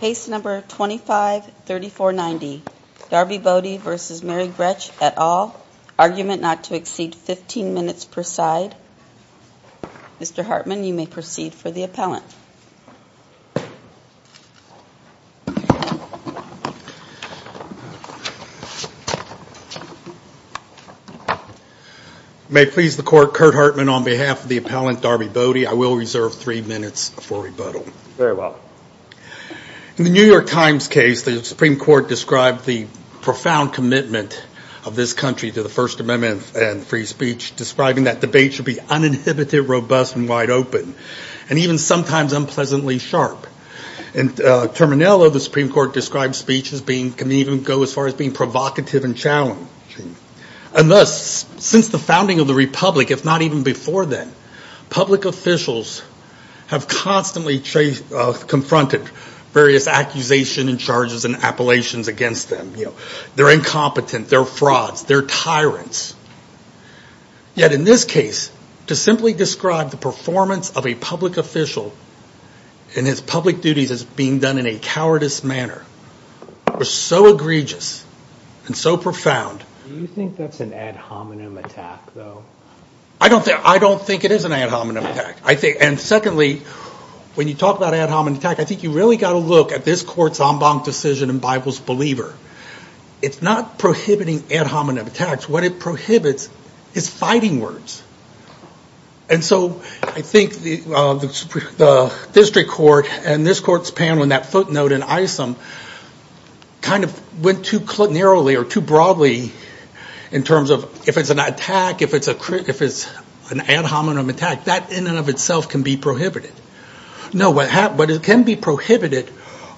Pace number 253490 Darbi Boddy versus Mary Grech et al. Argument not to exceed 15 minutes per side. Mr. Hartman, you may proceed for the appellant. May it please the court, Kurt Hartman on behalf of the appellant Darbi Boddy. I will reserve three minutes for rebuttal. Very well. In the New York Times case, the Supreme Court described the profound commitment of this country to the First Amendment and free speech, describing that debate should be uninhibited, robust, and wide open, and even sometimes unpleasantly sharp. In Terminello, the Supreme Court described speech can even go as far as being provocative and challenging. And thus, since the founding of the Republic, if not even before then, public officials have constantly confronted various accusations and charges and appellations against them. They're incompetent, they're frauds, they're tyrants. Yet in this case, to simply describe the performance of a public official and his public duties as being done in a cowardice manner was so egregious and so profound. Do you think that's an ad hominem attack, though? I don't think it is an ad hominem attack. And secondly, when you talk about ad hominem attack, I think you really got to look at this court's en banc decision in Bible's believer. It's not prohibiting ad hominem attacks. What it prohibits is fighting words. And so I think the district court and this court's panel in that footnote in Isom kind of went too narrowly or too broadly in terms of if it's an attack, if it's an ad hominem attack, that in and of itself can be prohibited. No, but it can be prohibited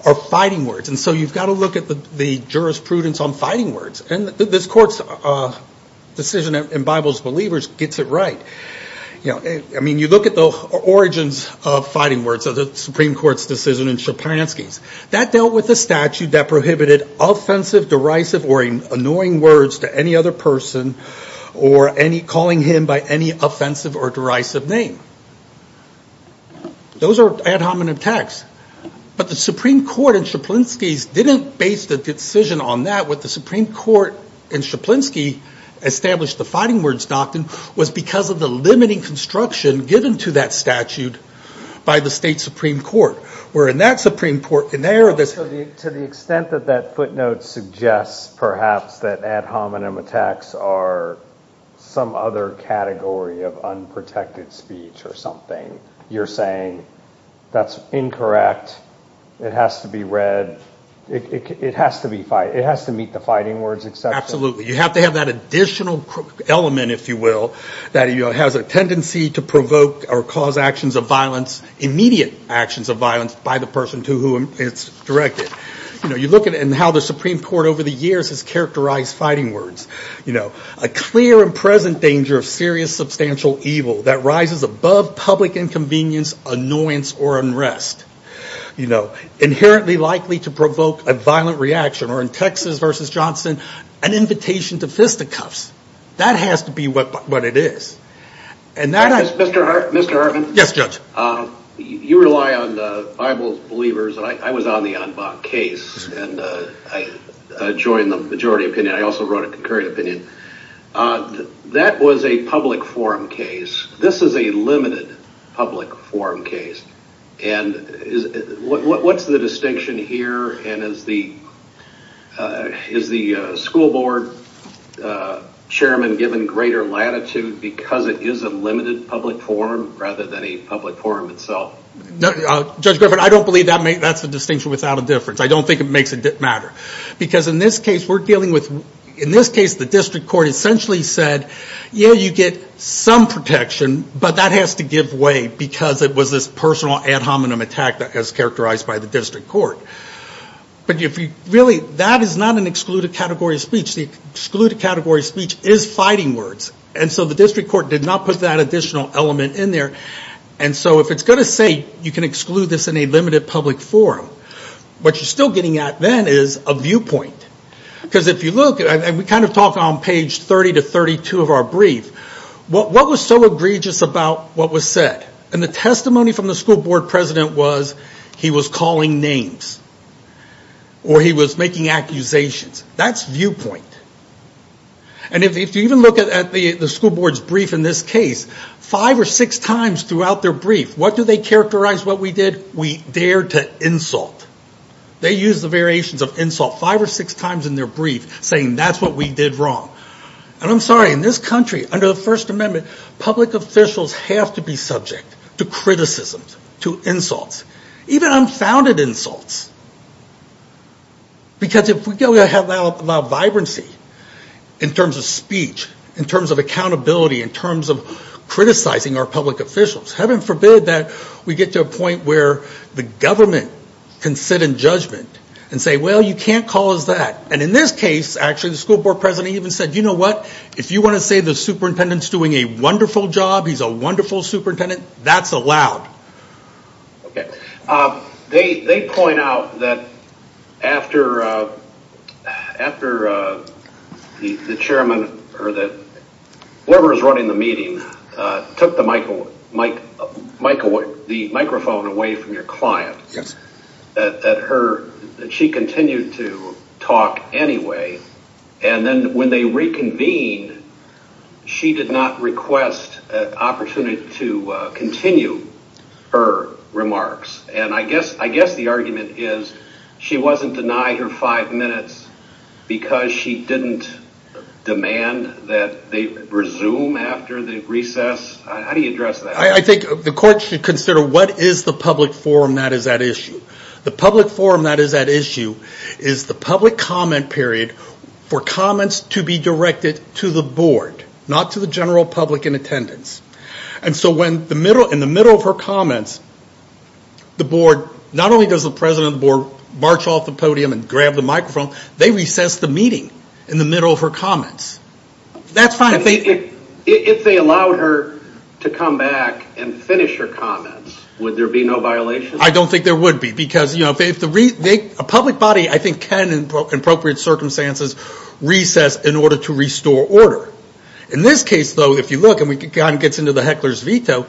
are fighting words. And so you've got to look at the jurisprudence on fighting words. And this court's decision in Bible's believers gets it right. You know, I mean, you look at the origins of fighting words of the Supreme Court's decision in Szczepanski's. That dealt with the statute that prohibited offensive, derisive or annoying words to any other person or any calling him by any offensive or derisive name. Those are ad hominem attacks. But the Supreme Court in Szczepanski's didn't base the decision on that. What the Supreme Court in Szczepanski established the fighting words doctrine was because of the limiting construction given to that statute by the state Supreme Court. Where in that Supreme Court in there. To the extent that that footnote suggests perhaps that ad hominem attacks are some other category of unprotected speech or something, you're saying that's incorrect. It has to be read. It has to be fight. It has to meet the fighting words. Absolutely. You have to have that additional element, if you will, that has a tendency to provoke or cause actions of violence, immediate actions of violence by the person to whom it's directed. You know, you look at it and how the Supreme Court over the years has characterized fighting words. You know, a clear and present danger of serious, substantial evil that rises above public inconvenience, annoyance or unrest. You know, inherently likely to provoke a violent reaction or in Texas versus Johnson, an invitation to fisticuffs. That has to be what it is. Mr. Hartman? Yes, Judge. You rely on the Bible's believers. I was on the Anbach case and I joined the majority opinion. I also wrote a concurring opinion. That was a public forum case. This is a limited public forum case. What's the distinction here and is the school board chairman given greater latitude because it is a limited public forum rather than a public forum itself? Judge Griffin, I don't believe that's a distinction without a difference. I don't think it makes a difference. Because in this case, we're dealing with, in this case, the district court essentially said, yeah, you get some protection, but that has to give way because it was this personal ad hominem attack that was characterized by the district court. But really, that is not an excluded category of speech. The excluded category of speech is fighting words. And so the district court did not put that additional element in there. And so if it's going to say you can exclude this in a limited public forum, what you're still getting at then is a viewpoint. Because if you look, and we kind of talk on page 30 to 32 of our brief, what was so egregious about what was said? And the testimony from the school board president was he was calling names or he was making accusations. That's viewpoint. And if you even look at the school board's brief in this case, five or six times throughout their brief, what do they characterize what we did? We dared to insult. They used the variations of insult five or six times in their brief saying that's what we did wrong. And I'm sorry, in this country, under the First Amendment, public officials have to be subject to criticisms, to insults, even unfounded insults. Because if we go ahead and allow vibrancy in terms of speech, in terms of accountability, in terms of criticizing our public officials, heaven forbid that we get to a point where the government can sit in judgment and say, well, you can't call us that. And in this case, actually, the school board president even said, you know what? If you want to say the superintendent's doing a wonderful job, he's a wonderful superintendent, that's allowed. They point out that after the chairman or whoever is running the meeting took the microphone away from your client, that she continued to talk anyway. And then when they reconvened, she did not request an opportunity to continue her remarks. And I guess the argument is she wasn't denied her five minutes because she didn't demand that they resume after the recess. How do you address that? I think the court should consider what is the public forum that is at issue. The public forum that is at issue is the public comment period for comments to be directed to the board, not to the general public in attendance. And so when in the middle of her comments, the board, not only does the president of the board march off the podium and grab the microphone, they recess the meeting in the middle of her comments. That's fine if they... If they allowed her to come back and finish her comments, would there be no violation? I don't think there would be. Because a public body, I think, can, in appropriate circumstances, recess in order to restore order. In this case, though, if you look and it gets into the heckler's veto,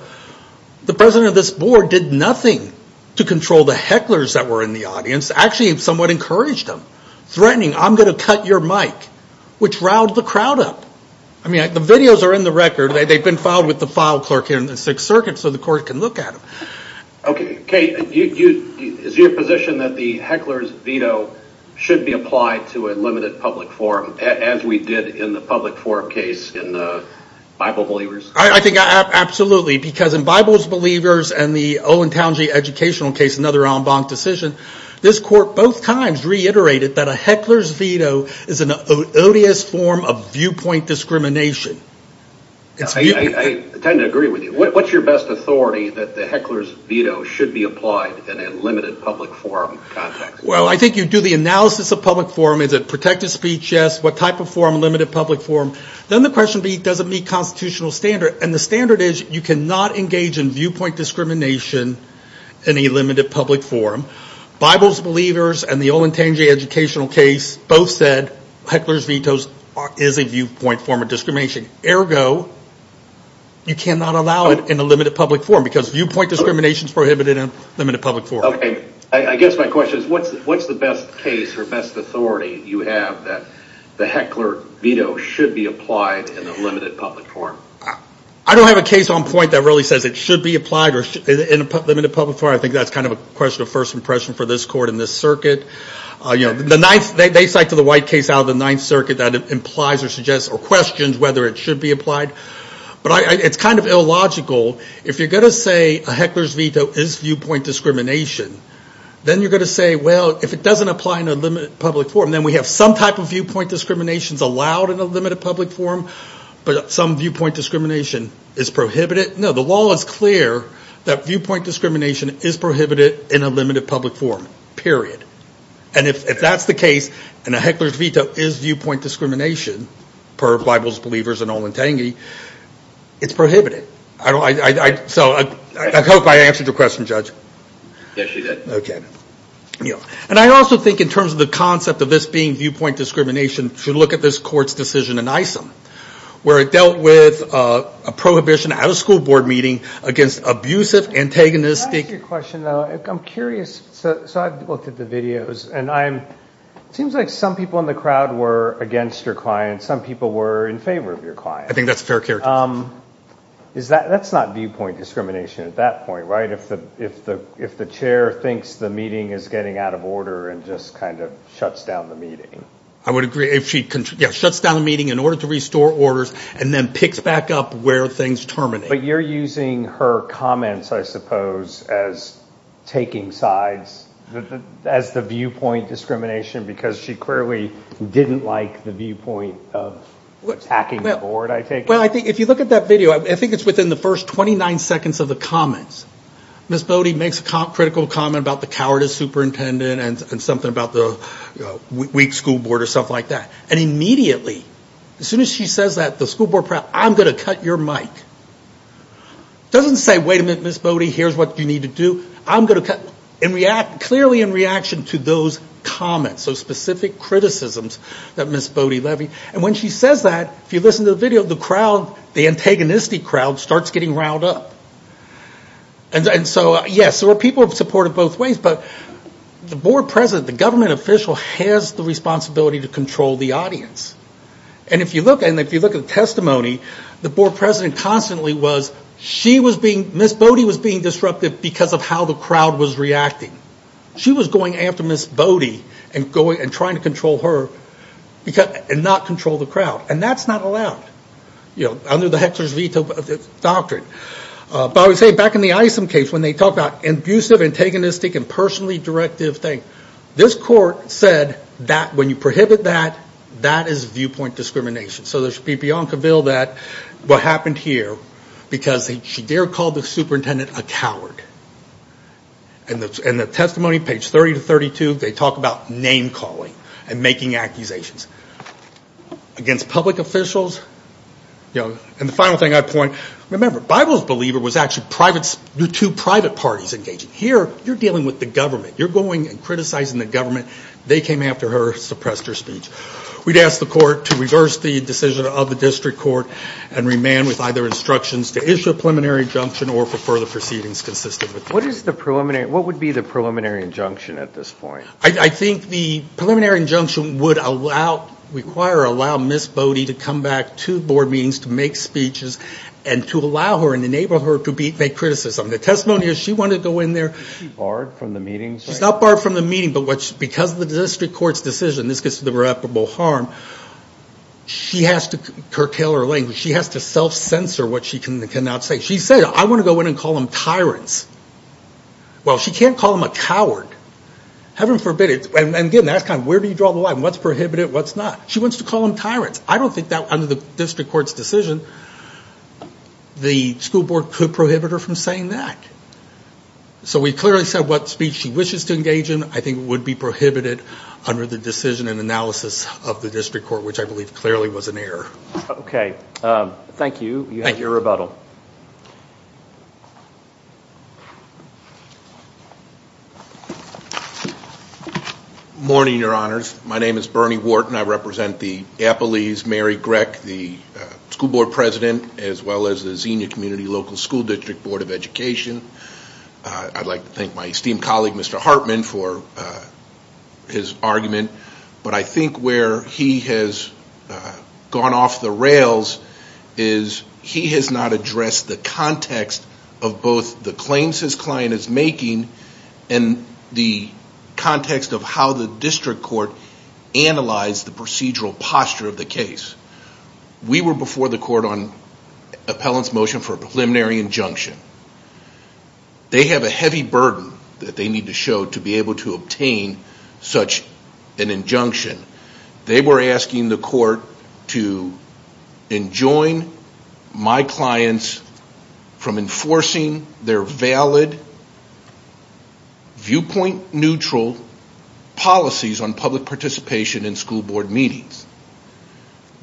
the president of this board did nothing to control the hecklers that were in the audience. Actually, somewhat encouraged them, threatening, I'm going to cut your mic, which riled the crowd up. I mean, the videos are in the record. They've been filed with the file clerk here in the Sixth Circuit so the court can look at them. Okay, Kate, is your position that the heckler's veto should be applied to a limited public forum, as we did in the public forum case in Bible Believers? I think absolutely, because in Bible Believers and the Owen Townsend educational case, another en banc decision, this court both times reiterated that a heckler's veto is an odious form of viewpoint discrimination. I tend to agree with you. What's your best authority that the heckler's veto should be applied in a limited public forum context? Well, I think you do the analysis of public forum. Is it protected speech? Yes. What type of forum? Limited public forum. Then the question be, does it meet constitutional standard? And the standard is you cannot engage in viewpoint discrimination in a limited public forum. Bible Believers and the Owen Townsend educational case both said heckler's veto is a viewpoint form of discrimination. Ergo, you cannot allow it in a limited public forum because viewpoint discrimination is prohibited in a limited public forum. I guess my question is what's the best case or best authority you have that the heckler veto should be applied in a limited public forum? I don't have a case on point that really says it should be applied in a limited public forum. I think that's kind of a question of first impression for this court and this circuit. They cite to the white case out of the Ninth Circuit that it implies or suggests or questions whether it should be applied. But it's kind of illogical. If you're going to say a heckler's veto is viewpoint discrimination, then you're going to say, well, if it doesn't apply in a limited public forum, then we have some type of viewpoint discrimination allowed in a limited public forum, but some viewpoint discrimination is prohibited. No, the law is clear that viewpoint discrimination is prohibited in a limited public forum, period. And if that's the case and a heckler's veto is viewpoint discrimination, per Bible's Believers and Owen Tangey, it's prohibited. So I hope I answered your question, Judge. Yes, you did. Okay. And I also think in terms of the concept of this being viewpoint discrimination, should look at this court's decision in ISM, where it dealt with a prohibition out-of-school board meeting against abusive, antagonistic. Can I ask you a question, though? I'm curious. So I've looked at the videos, and it seems like some people in the crowd were against your client. Some people were in favor of your client. I think that's fair character. That's not viewpoint discrimination at that point, right, if the chair thinks the meeting is getting out of order and just kind of shuts down the meeting? I would agree. If she shuts down the meeting in order to restore orders and then picks back up where things terminate. But you're using her comments, I suppose, as taking sides, as the viewpoint discrimination, because she clearly didn't like the viewpoint of attacking the board, I take it? Well, if you look at that video, I think it's within the first 29 seconds of the comments. Ms. Bodie makes a critical comment about the cowardice superintendent and something about the weak school board or something like that. And immediately, as soon as she says that, the school board, I'm going to cut your mic. It doesn't say, wait a minute, Ms. Bodie, here's what you need to do. I'm going to cut, clearly in reaction to those comments, those specific criticisms that Ms. Bodie levied. And when she says that, if you listen to the video, the crowd, the antagonistic crowd starts getting riled up. And so, yes, there were people who supported both ways, but the board president, the government official has the responsibility to control the audience. And if you look at the testimony, the board president constantly was, she was being, Ms. Bodie was being disruptive because of how the crowd was reacting. She was going after Ms. Bodie and trying to control her and not control the crowd. And that's not allowed, you know, under the Hexer's Veto Doctrine. But I would say, back in the Isom case, when they talked about abusive, antagonistic, and personally directive things, this court said that when you prohibit that, that is viewpoint discrimination. So there should be Bianca Ville that, what happened here, because they called the superintendent a coward. And the testimony, page 30 to 32, they talk about name calling and making accusations against public officials. And the final thing I'd point, remember, Bible's Believer was actually two private parties engaging. Here, you're dealing with the government. You're going and criticizing the government. They came after her, suppressed her speech. We'd ask the court to reverse the decision of the district court and remand with either instructions to issue a preliminary injunction or for further proceedings consistent with that. What is the preliminary, what would be the preliminary injunction at this point? I think the preliminary injunction would allow, require or allow Ms. Bodie to come back to board meetings to make speeches and to allow her and enable her to make criticism. The testimony is she wanted to go in there. Is she barred from the meetings? She's not barred from the meeting. But because of the district court's decision, this gets to the reputable harm, she has to curtail her language. She has to self-censor what she cannot say. She said, I want to go in and call them tyrants. Well, she can't call them a coward. Heaven forbid, and again, that's kind of where do you draw the line? What's prohibited, what's not? She wants to call them tyrants. I don't think that under the district court's decision, the school board could prohibit her from saying that. So we clearly said what speech she wishes to engage in. I think it would be prohibited under the decision and analysis of the district court, which I believe clearly was an error. Thank you. Thank you. You have your rebuttal. Morning, Your Honors. My name is Bernie Wharton. I represent the Appalese Mary Greck, the school board president, as well as the Xenia Community Local School District Board of Education. I'd like to thank my esteemed colleague, Mr. Hartman, for his argument. But I think where he has gone off the rails is he has not addressed the context of both the claims his client is making and the context of how the district court analyzed the procedural posture of the case. We were before the court on appellant's motion for a preliminary injunction. They have a heavy burden that they need to show to be able to obtain such an injunction. They were asking the court to enjoin my clients from enforcing their valid viewpoint-neutral policies on public participation in school board meetings.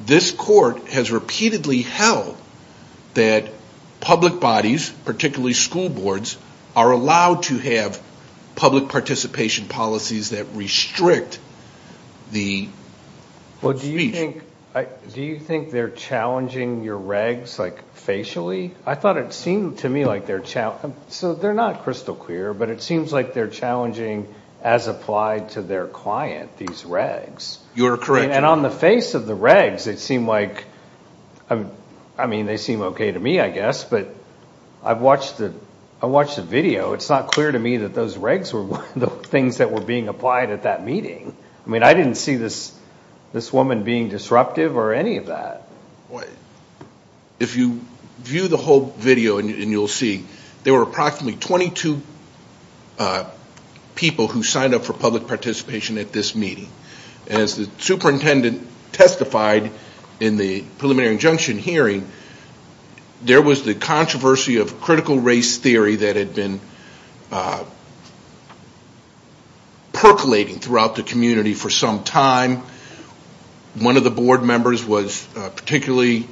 This court has repeatedly held that public bodies, particularly school boards, are allowed to have public participation policies that restrict the speech. Do you think they're challenging your regs, like, facially? I thought it seemed to me like they're challenging. So they're not crystal clear, but it seems like they're challenging, as applied to their client, these regs. You're correct. And on the face of the regs, it seemed like, I mean, they seem okay to me, I guess, but I watched the video. It's not clear to me that those regs were the things that were being applied at that meeting. I mean, I didn't see this woman being disruptive or any of that. If you view the whole video, and you'll see, there were approximately 22 people who signed up for public participation at this meeting. As the superintendent testified in the preliminary injunction hearing, there was the controversy of critical race theory that had been percolating throughout the community for some time. One of the board members was particularly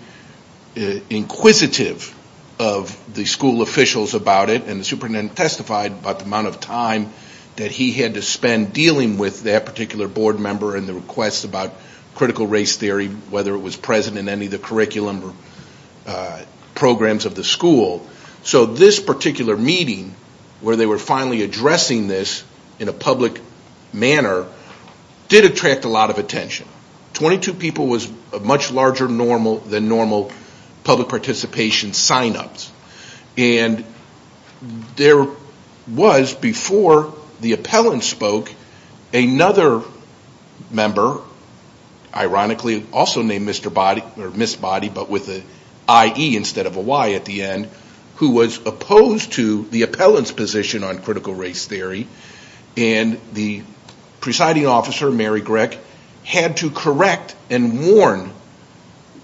inquisitive of the school officials about it, and the superintendent testified about the amount of time that he had to spend dealing with that particular board member and the request about critical race theory, whether it was present in any of the curriculum or programs of the school. So this particular meeting, where they were finally addressing this in a public manner, did attract a lot of attention. Twenty-two people was a much larger than normal public participation sign-ups. And there was, before the appellant spoke, another member, ironically also named Miss Body, but with an IE instead of a Y at the end, who was opposed to the appellant's position on critical race theory. And the presiding officer, Mary Greck, had to correct and warn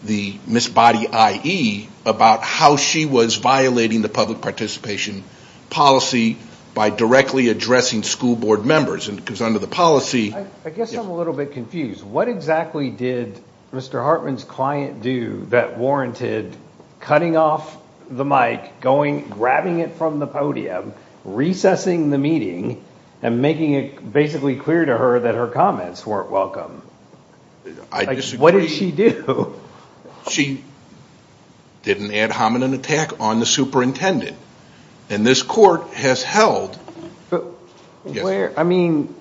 Miss Body IE about how she was violating the public participation policy by directly addressing school board members. I guess I'm a little bit confused. What exactly did Mr. Hartman's client do that warranted cutting off the mic, grabbing it from the podium, recessing the meeting, and making it basically clear to her that her comments weren't welcome? What did she do? She did an ad hominem attack on the superintendent. And this court has held... I mean,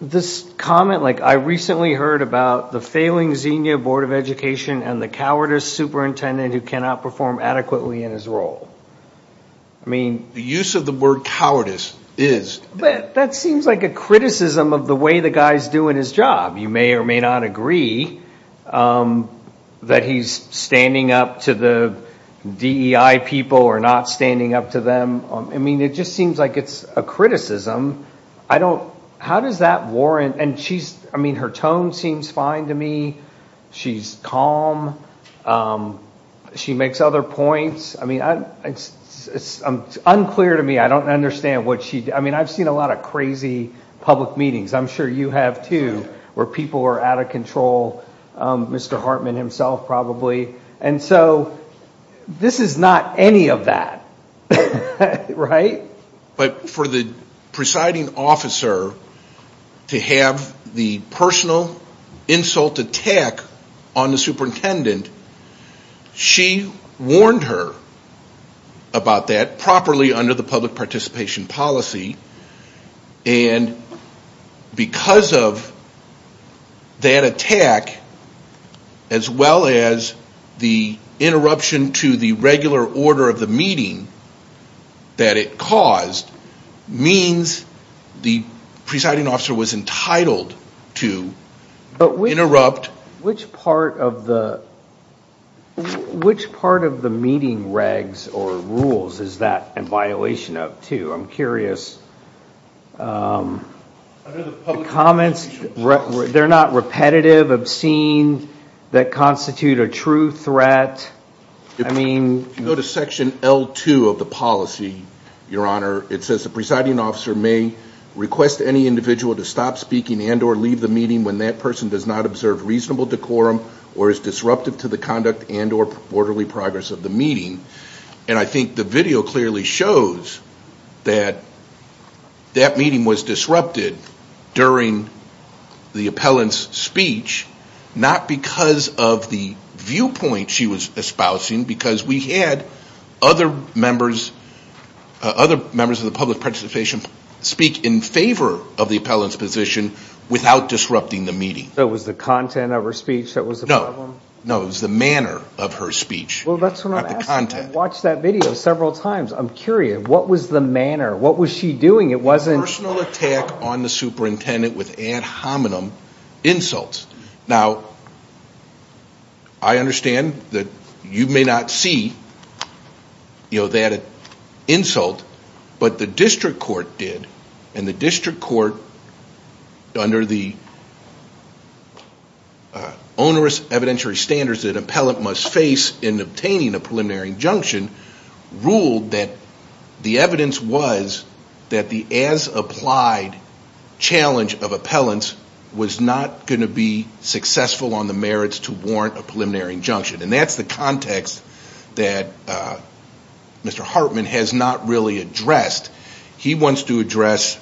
this comment, like, I recently heard about the failing Xenia Board of Education and the cowardice superintendent who cannot perform adequately in his role. The use of the word cowardice is... That seems like a criticism of the way the guy's doing his job. You may or may not agree that he's standing up to the DEI people or not standing up to them. I mean, it just seems like it's a criticism. I don't... How does that warrant... And she's... I mean, her tone seems fine to me. She's calm. She makes other points. I mean, it's unclear to me. I don't understand what she... I mean, I've seen a lot of crazy public meetings. I'm sure you have, too, where people are out of control. Mr. Hartman himself, probably. And so this is not any of that. Right? But for the presiding officer to have the personal insult attack on the superintendent, she warned her about that properly under the public participation policy. And because of that attack, as well as the interruption to the regular order of the meeting that it caused, means the presiding officer was entitled to interrupt... Which part of the meeting regs or rules is that in violation of, too? I'm curious. The comments, they're not repetitive, obscene, that constitute a true threat. I mean... If you go to section L2 of the policy, Your Honor, it says the presiding officer may request any individual to stop speaking and or leave the meeting when that person does not observe reasonable decorum or is disruptive to the conduct and or orderly progress of the meeting. And I think the video clearly shows that that meeting was disrupted during the appellant's speech, not because of the viewpoint she was espousing, because we had other members of the public participation speak in favor of the appellant's position without disrupting the meeting. So it was the content of her speech that was the problem? No, it was the manner of her speech. Well, that's what I'm asking. I've watched that video several times. I'm curious. What was the manner? What was she doing? It wasn't... Personal attack on the superintendent with ad hominem insults. Now, I understand that you may not see that insult, but the district court did, and the district court under the onerous evidentiary standards that an appellant must face in obtaining a preliminary injunction ruled that the evidence was that the as-applied challenge of appellants was not going to be successful. On the merits to warrant a preliminary injunction. And that's the context that Mr. Hartman has not really addressed. He wants to address,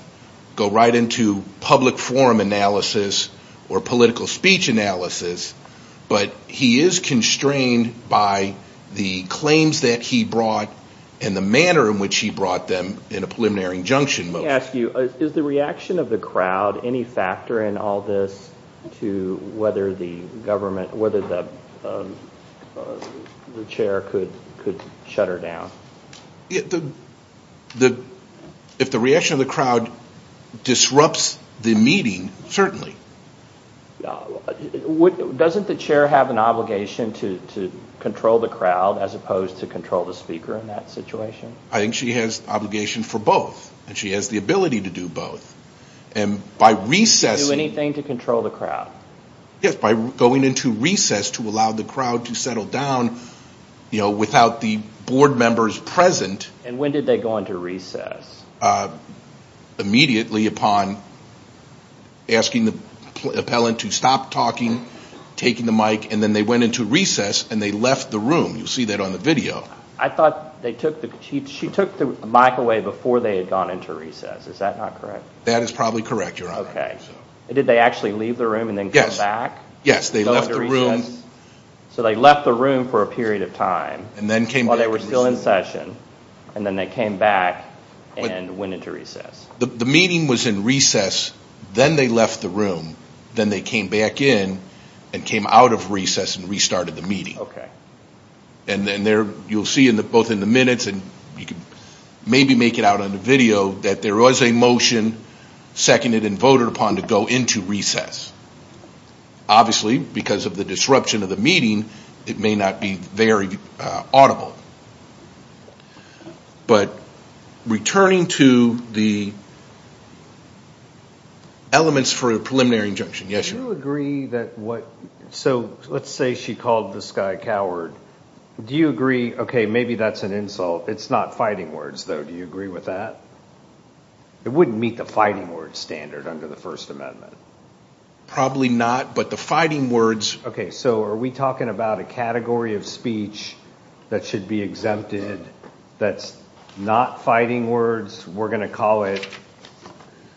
go right into public forum analysis or political speech analysis, but he is constrained by the claims that he brought and the manner in which he brought them in a preliminary injunction. Let me ask you, is the reaction of the crowd any factor in all this to whether the chair could shut her down? If the reaction of the crowd disrupts the meeting, certainly. Doesn't the chair have an obligation to control the crowd as opposed to control the speaker in that situation? I think she has an obligation for both, and she has the ability to do both. Do anything to control the crowd? Yes, by going into recess to allow the crowd to settle down without the board members present. And when did they go into recess? Immediately upon asking the appellant to stop talking, taking the mic, and then they went into recess and they left the room. You'll see that on the video. I thought she took the mic away before they had gone into recess. Is that not correct? That is probably correct, Your Honor. Did they actually leave the room and then come back? Yes, they left the room for a period of time while they were still in session, and then they came back and went into recess. The meeting was in recess, then they left the room, then they came back in and came out of recess and restarted the meeting. You'll see both in the minutes and maybe make it out on the video that there was a motion seconded and voted upon to go into recess. Obviously, because of the disruption of the meeting, it may not be very audible. Returning to the elements for a preliminary injunction. Let's say she called this guy a coward. Maybe that's an insult. It's not fighting words, though. Do you agree with that? It wouldn't meet the fighting words standard under the First Amendment. Probably not, but the fighting words... Are we talking about a category of speech that should be exempted that's not fighting words? We're going to call it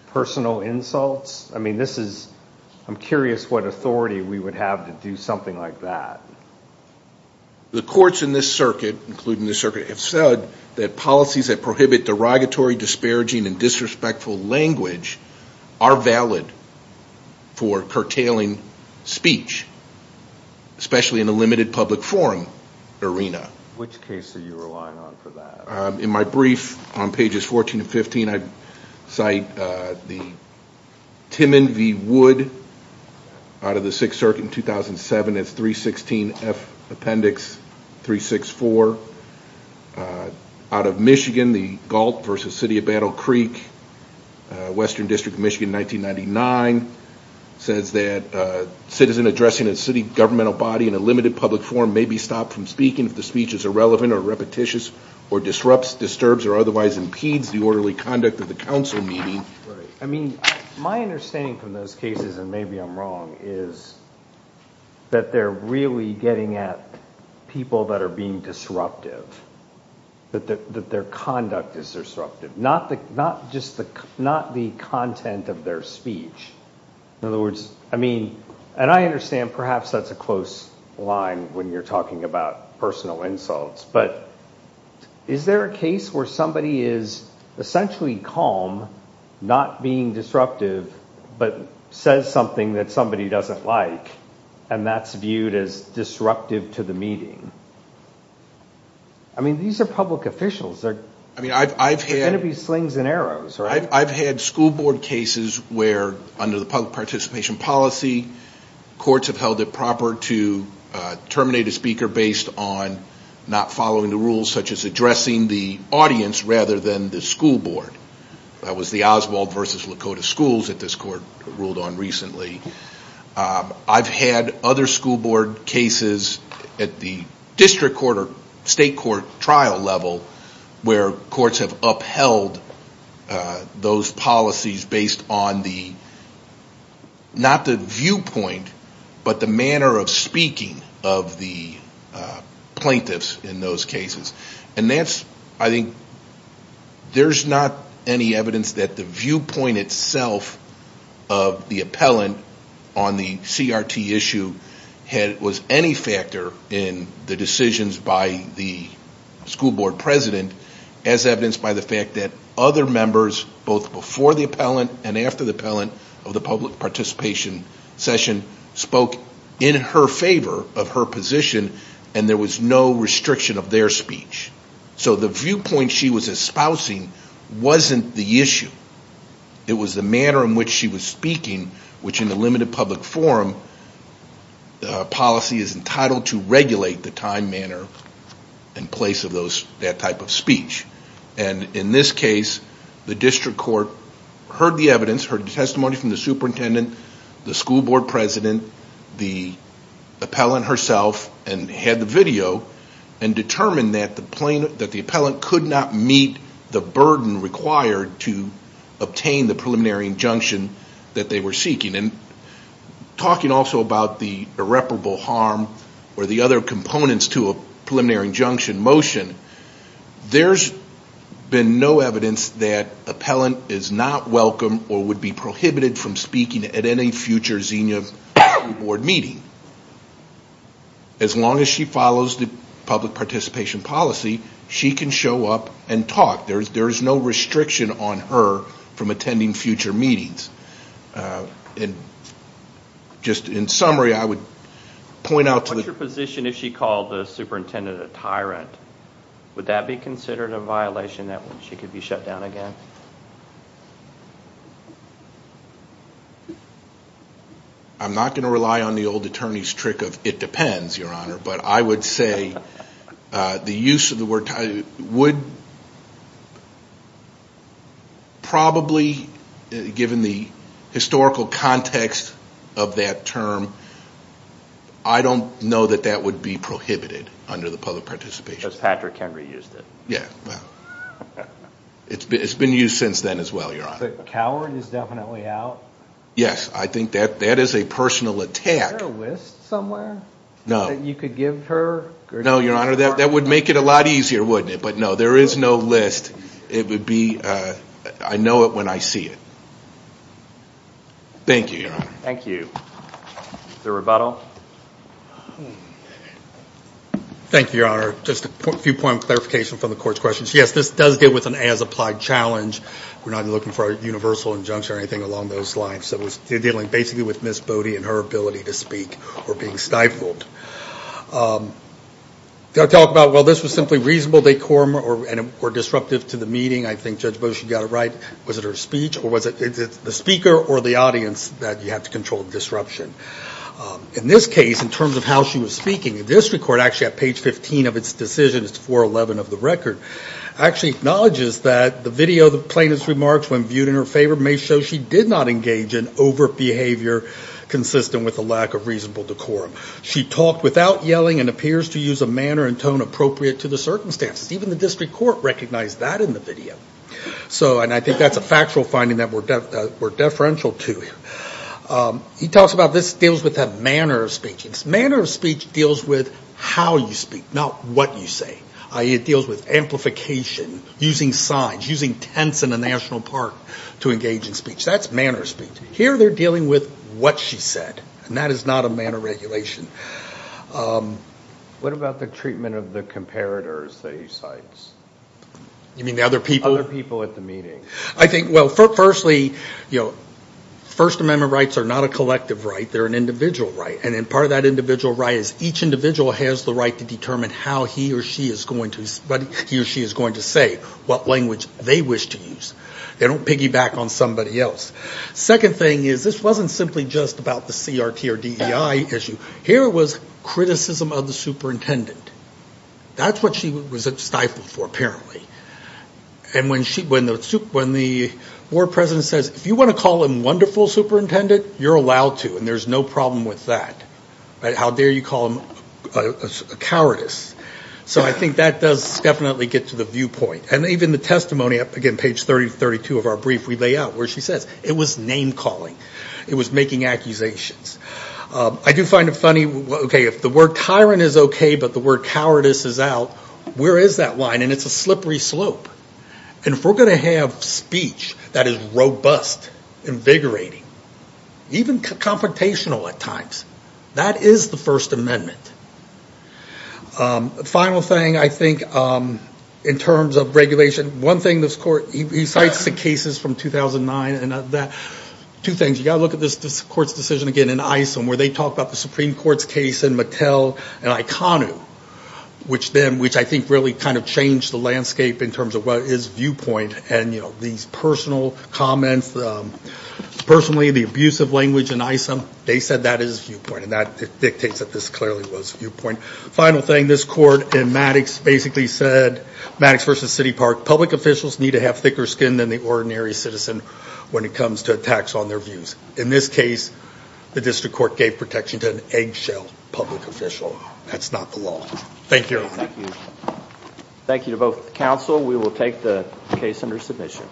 personal insults? I'm curious what authority we would have to do something like that. The courts in this circuit, including this circuit, have said that policies that prohibit derogatory, disparaging, and disrespectful language are valid for curtailing speech, especially in a limited public forum arena. Which case are you relying on for that? In my brief on pages 14 and 15, I cite the Timmon v. Wood out of the Sixth Circuit in 2007. It's 316F Appendix 364. Out of Michigan, the Galt v. City of Battle Creek, Western District of Michigan, 1999. It says that a citizen addressing a city governmental body in a limited public forum may be stopped from speaking if the speech is irrelevant or repetitious or disrupts, disturbs, or otherwise impedes the orderly conduct of the council meeting. My understanding from those cases, and maybe I'm wrong, is that they're really getting at people that are being disruptive. That their conduct is disruptive, not just the content of their speech. In other words, I mean, and I understand perhaps that's a close line when you're talking about personal insults, but is there a case where somebody is essentially calm, not being disruptive, but says something that somebody doesn't like, and that's viewed as disruptive to the meeting? I mean, these are public officials. They're going to be slings and arrows, right? I've had school board cases where, under the public participation policy, courts have held it proper to terminate a speaker based on not following the rules, such as addressing the audience rather than the school board. That was the Oswald v. Lakota schools that this court ruled on recently. I've had other school board cases at the district court or state court trial level where courts have upheld those policies based on the, not the viewpoint, but the manner of speaking of the plaintiffs in those cases. I think there's not any evidence that the viewpoint itself of the appellant on the CRT issue was any factor in the decisions by the school board president as evidenced by the fact that other members, both before the appellant and after the appellant of the public participation session, spoke in her favor of her position, and there was no restriction of their speech. So the viewpoint she was espousing wasn't the issue. It was the manner in which she was speaking, which in the limited public forum policy is entitled to regulate the time, manner, and place of that type of speech. In this case, the district court heard the evidence, heard the testimony from the superintendent, the school board president, the appellant herself, and had the video, and determined that the appellant could not meet the burden required to obtain the preliminary injunction that they were seeking. Talking also about the irreparable harm or the other components to a preliminary injunction motion, there's been no evidence that appellant is not welcome or would be prohibited from speaking at any future Xenia board meeting. As long as she follows the public participation policy, she can show up and talk. There is no restriction on her from attending future meetings. And just in summary, I would point out to the... What's your position if she called the superintendent a tyrant? Would that be considered a violation that she could be shut down again? I'm not going to rely on the old attorney's trick of, it depends, your honor, but I would say the use of the word tyrant would probably, given the historical context of that term, I don't know that that would be prohibited under the public participation. Patrick Henry used it. It's been used since then as well, your honor. The coward is definitely out. Yes, I think that is a personal attack. Is there a list somewhere that you could give her? No, your honor, that would make it a lot easier, wouldn't it? But no, there is no list. It would be, I know it when I see it. Thank you, your honor. Thank you. Is there rebuttal? Thank you, your honor. Your honor, just a few point of clarification from the court's questions. Yes, this does deal with an as-applied challenge. We're not looking for a universal injunction or anything along those lines. So it was dealing basically with Ms. Bode and her ability to speak or being stifled. They'll talk about, well, this was simply reasonable decorum or disruptive to the meeting. I think Judge Bode, she got it right. Was it her speech or was it the speaker or the audience that you have to control the disruption? In this case, in terms of how she was speaking, the district court actually at page 15 of its decision, it's 411 of the record, actually acknowledges that the video of the plaintiff's remarks when viewed in her favor may show she did not engage in overt behavior consistent with a lack of reasonable decorum. She talked without yelling and appears to use a manner and tone appropriate to the circumstances. Even the district court recognized that in the video. And I think that's a factual finding that we're deferential to. He talks about this deals with a manner of speech. Manner of speech deals with how you speak, not what you say. It deals with amplification, using signs, using tents in a national park to engage in speech. That's manner of speech. Here they're dealing with what she said, and that is not a manner of regulation. What about the treatment of the comparators that he cites? You mean the other people? Other people at the meeting. I think, well, firstly, First Amendment rights are not a collective right. They're an individual right. And part of that individual right is each individual has the right to determine how he or she is going to say what language they wish to use. They don't piggyback on somebody else. Second thing is this wasn't simply just about the CRT or DEI issue. Here it was criticism of the superintendent. That's what she was stifled for, apparently. And when the Board President says, if you want to call him wonderful superintendent, you're allowed to, and there's no problem with that. How dare you call him a cowardice? So I think that does definitely get to the viewpoint. And even the testimony, again, page 32 of our brief, we lay out what she says. It was name-calling. It was making accusations. I do find it funny, okay, if the word tyrant is okay, but the word cowardice is out, where is that line? And it's a slippery slope. And if we're going to have speech that is robust, invigorating, even confrontational at times, that is the First Amendment. The final thing, I think, in terms of regulation, one thing this court, he cites the cases from 2009, and two things. You've got to look at this court's decision, again, in ISOM, where they talk about the Supreme Court's case in Mattel and IKONU, which I think really kind of changed the landscape in terms of what is viewpoint, and, you know, these personal comments. Personally, the abuse of language in ISOM, they said that is viewpoint, and that dictates that this clearly was viewpoint. Final thing, this court in Maddox basically said, Maddox v. City Park, public officials need to have thicker skin than the ordinary citizen when it comes to attacks on their views. In this case, the district court gave protection to an eggshell public official. That's not the law. Thank you, everyone. Thank you. Thank you to both counsel. We will take the case under submission.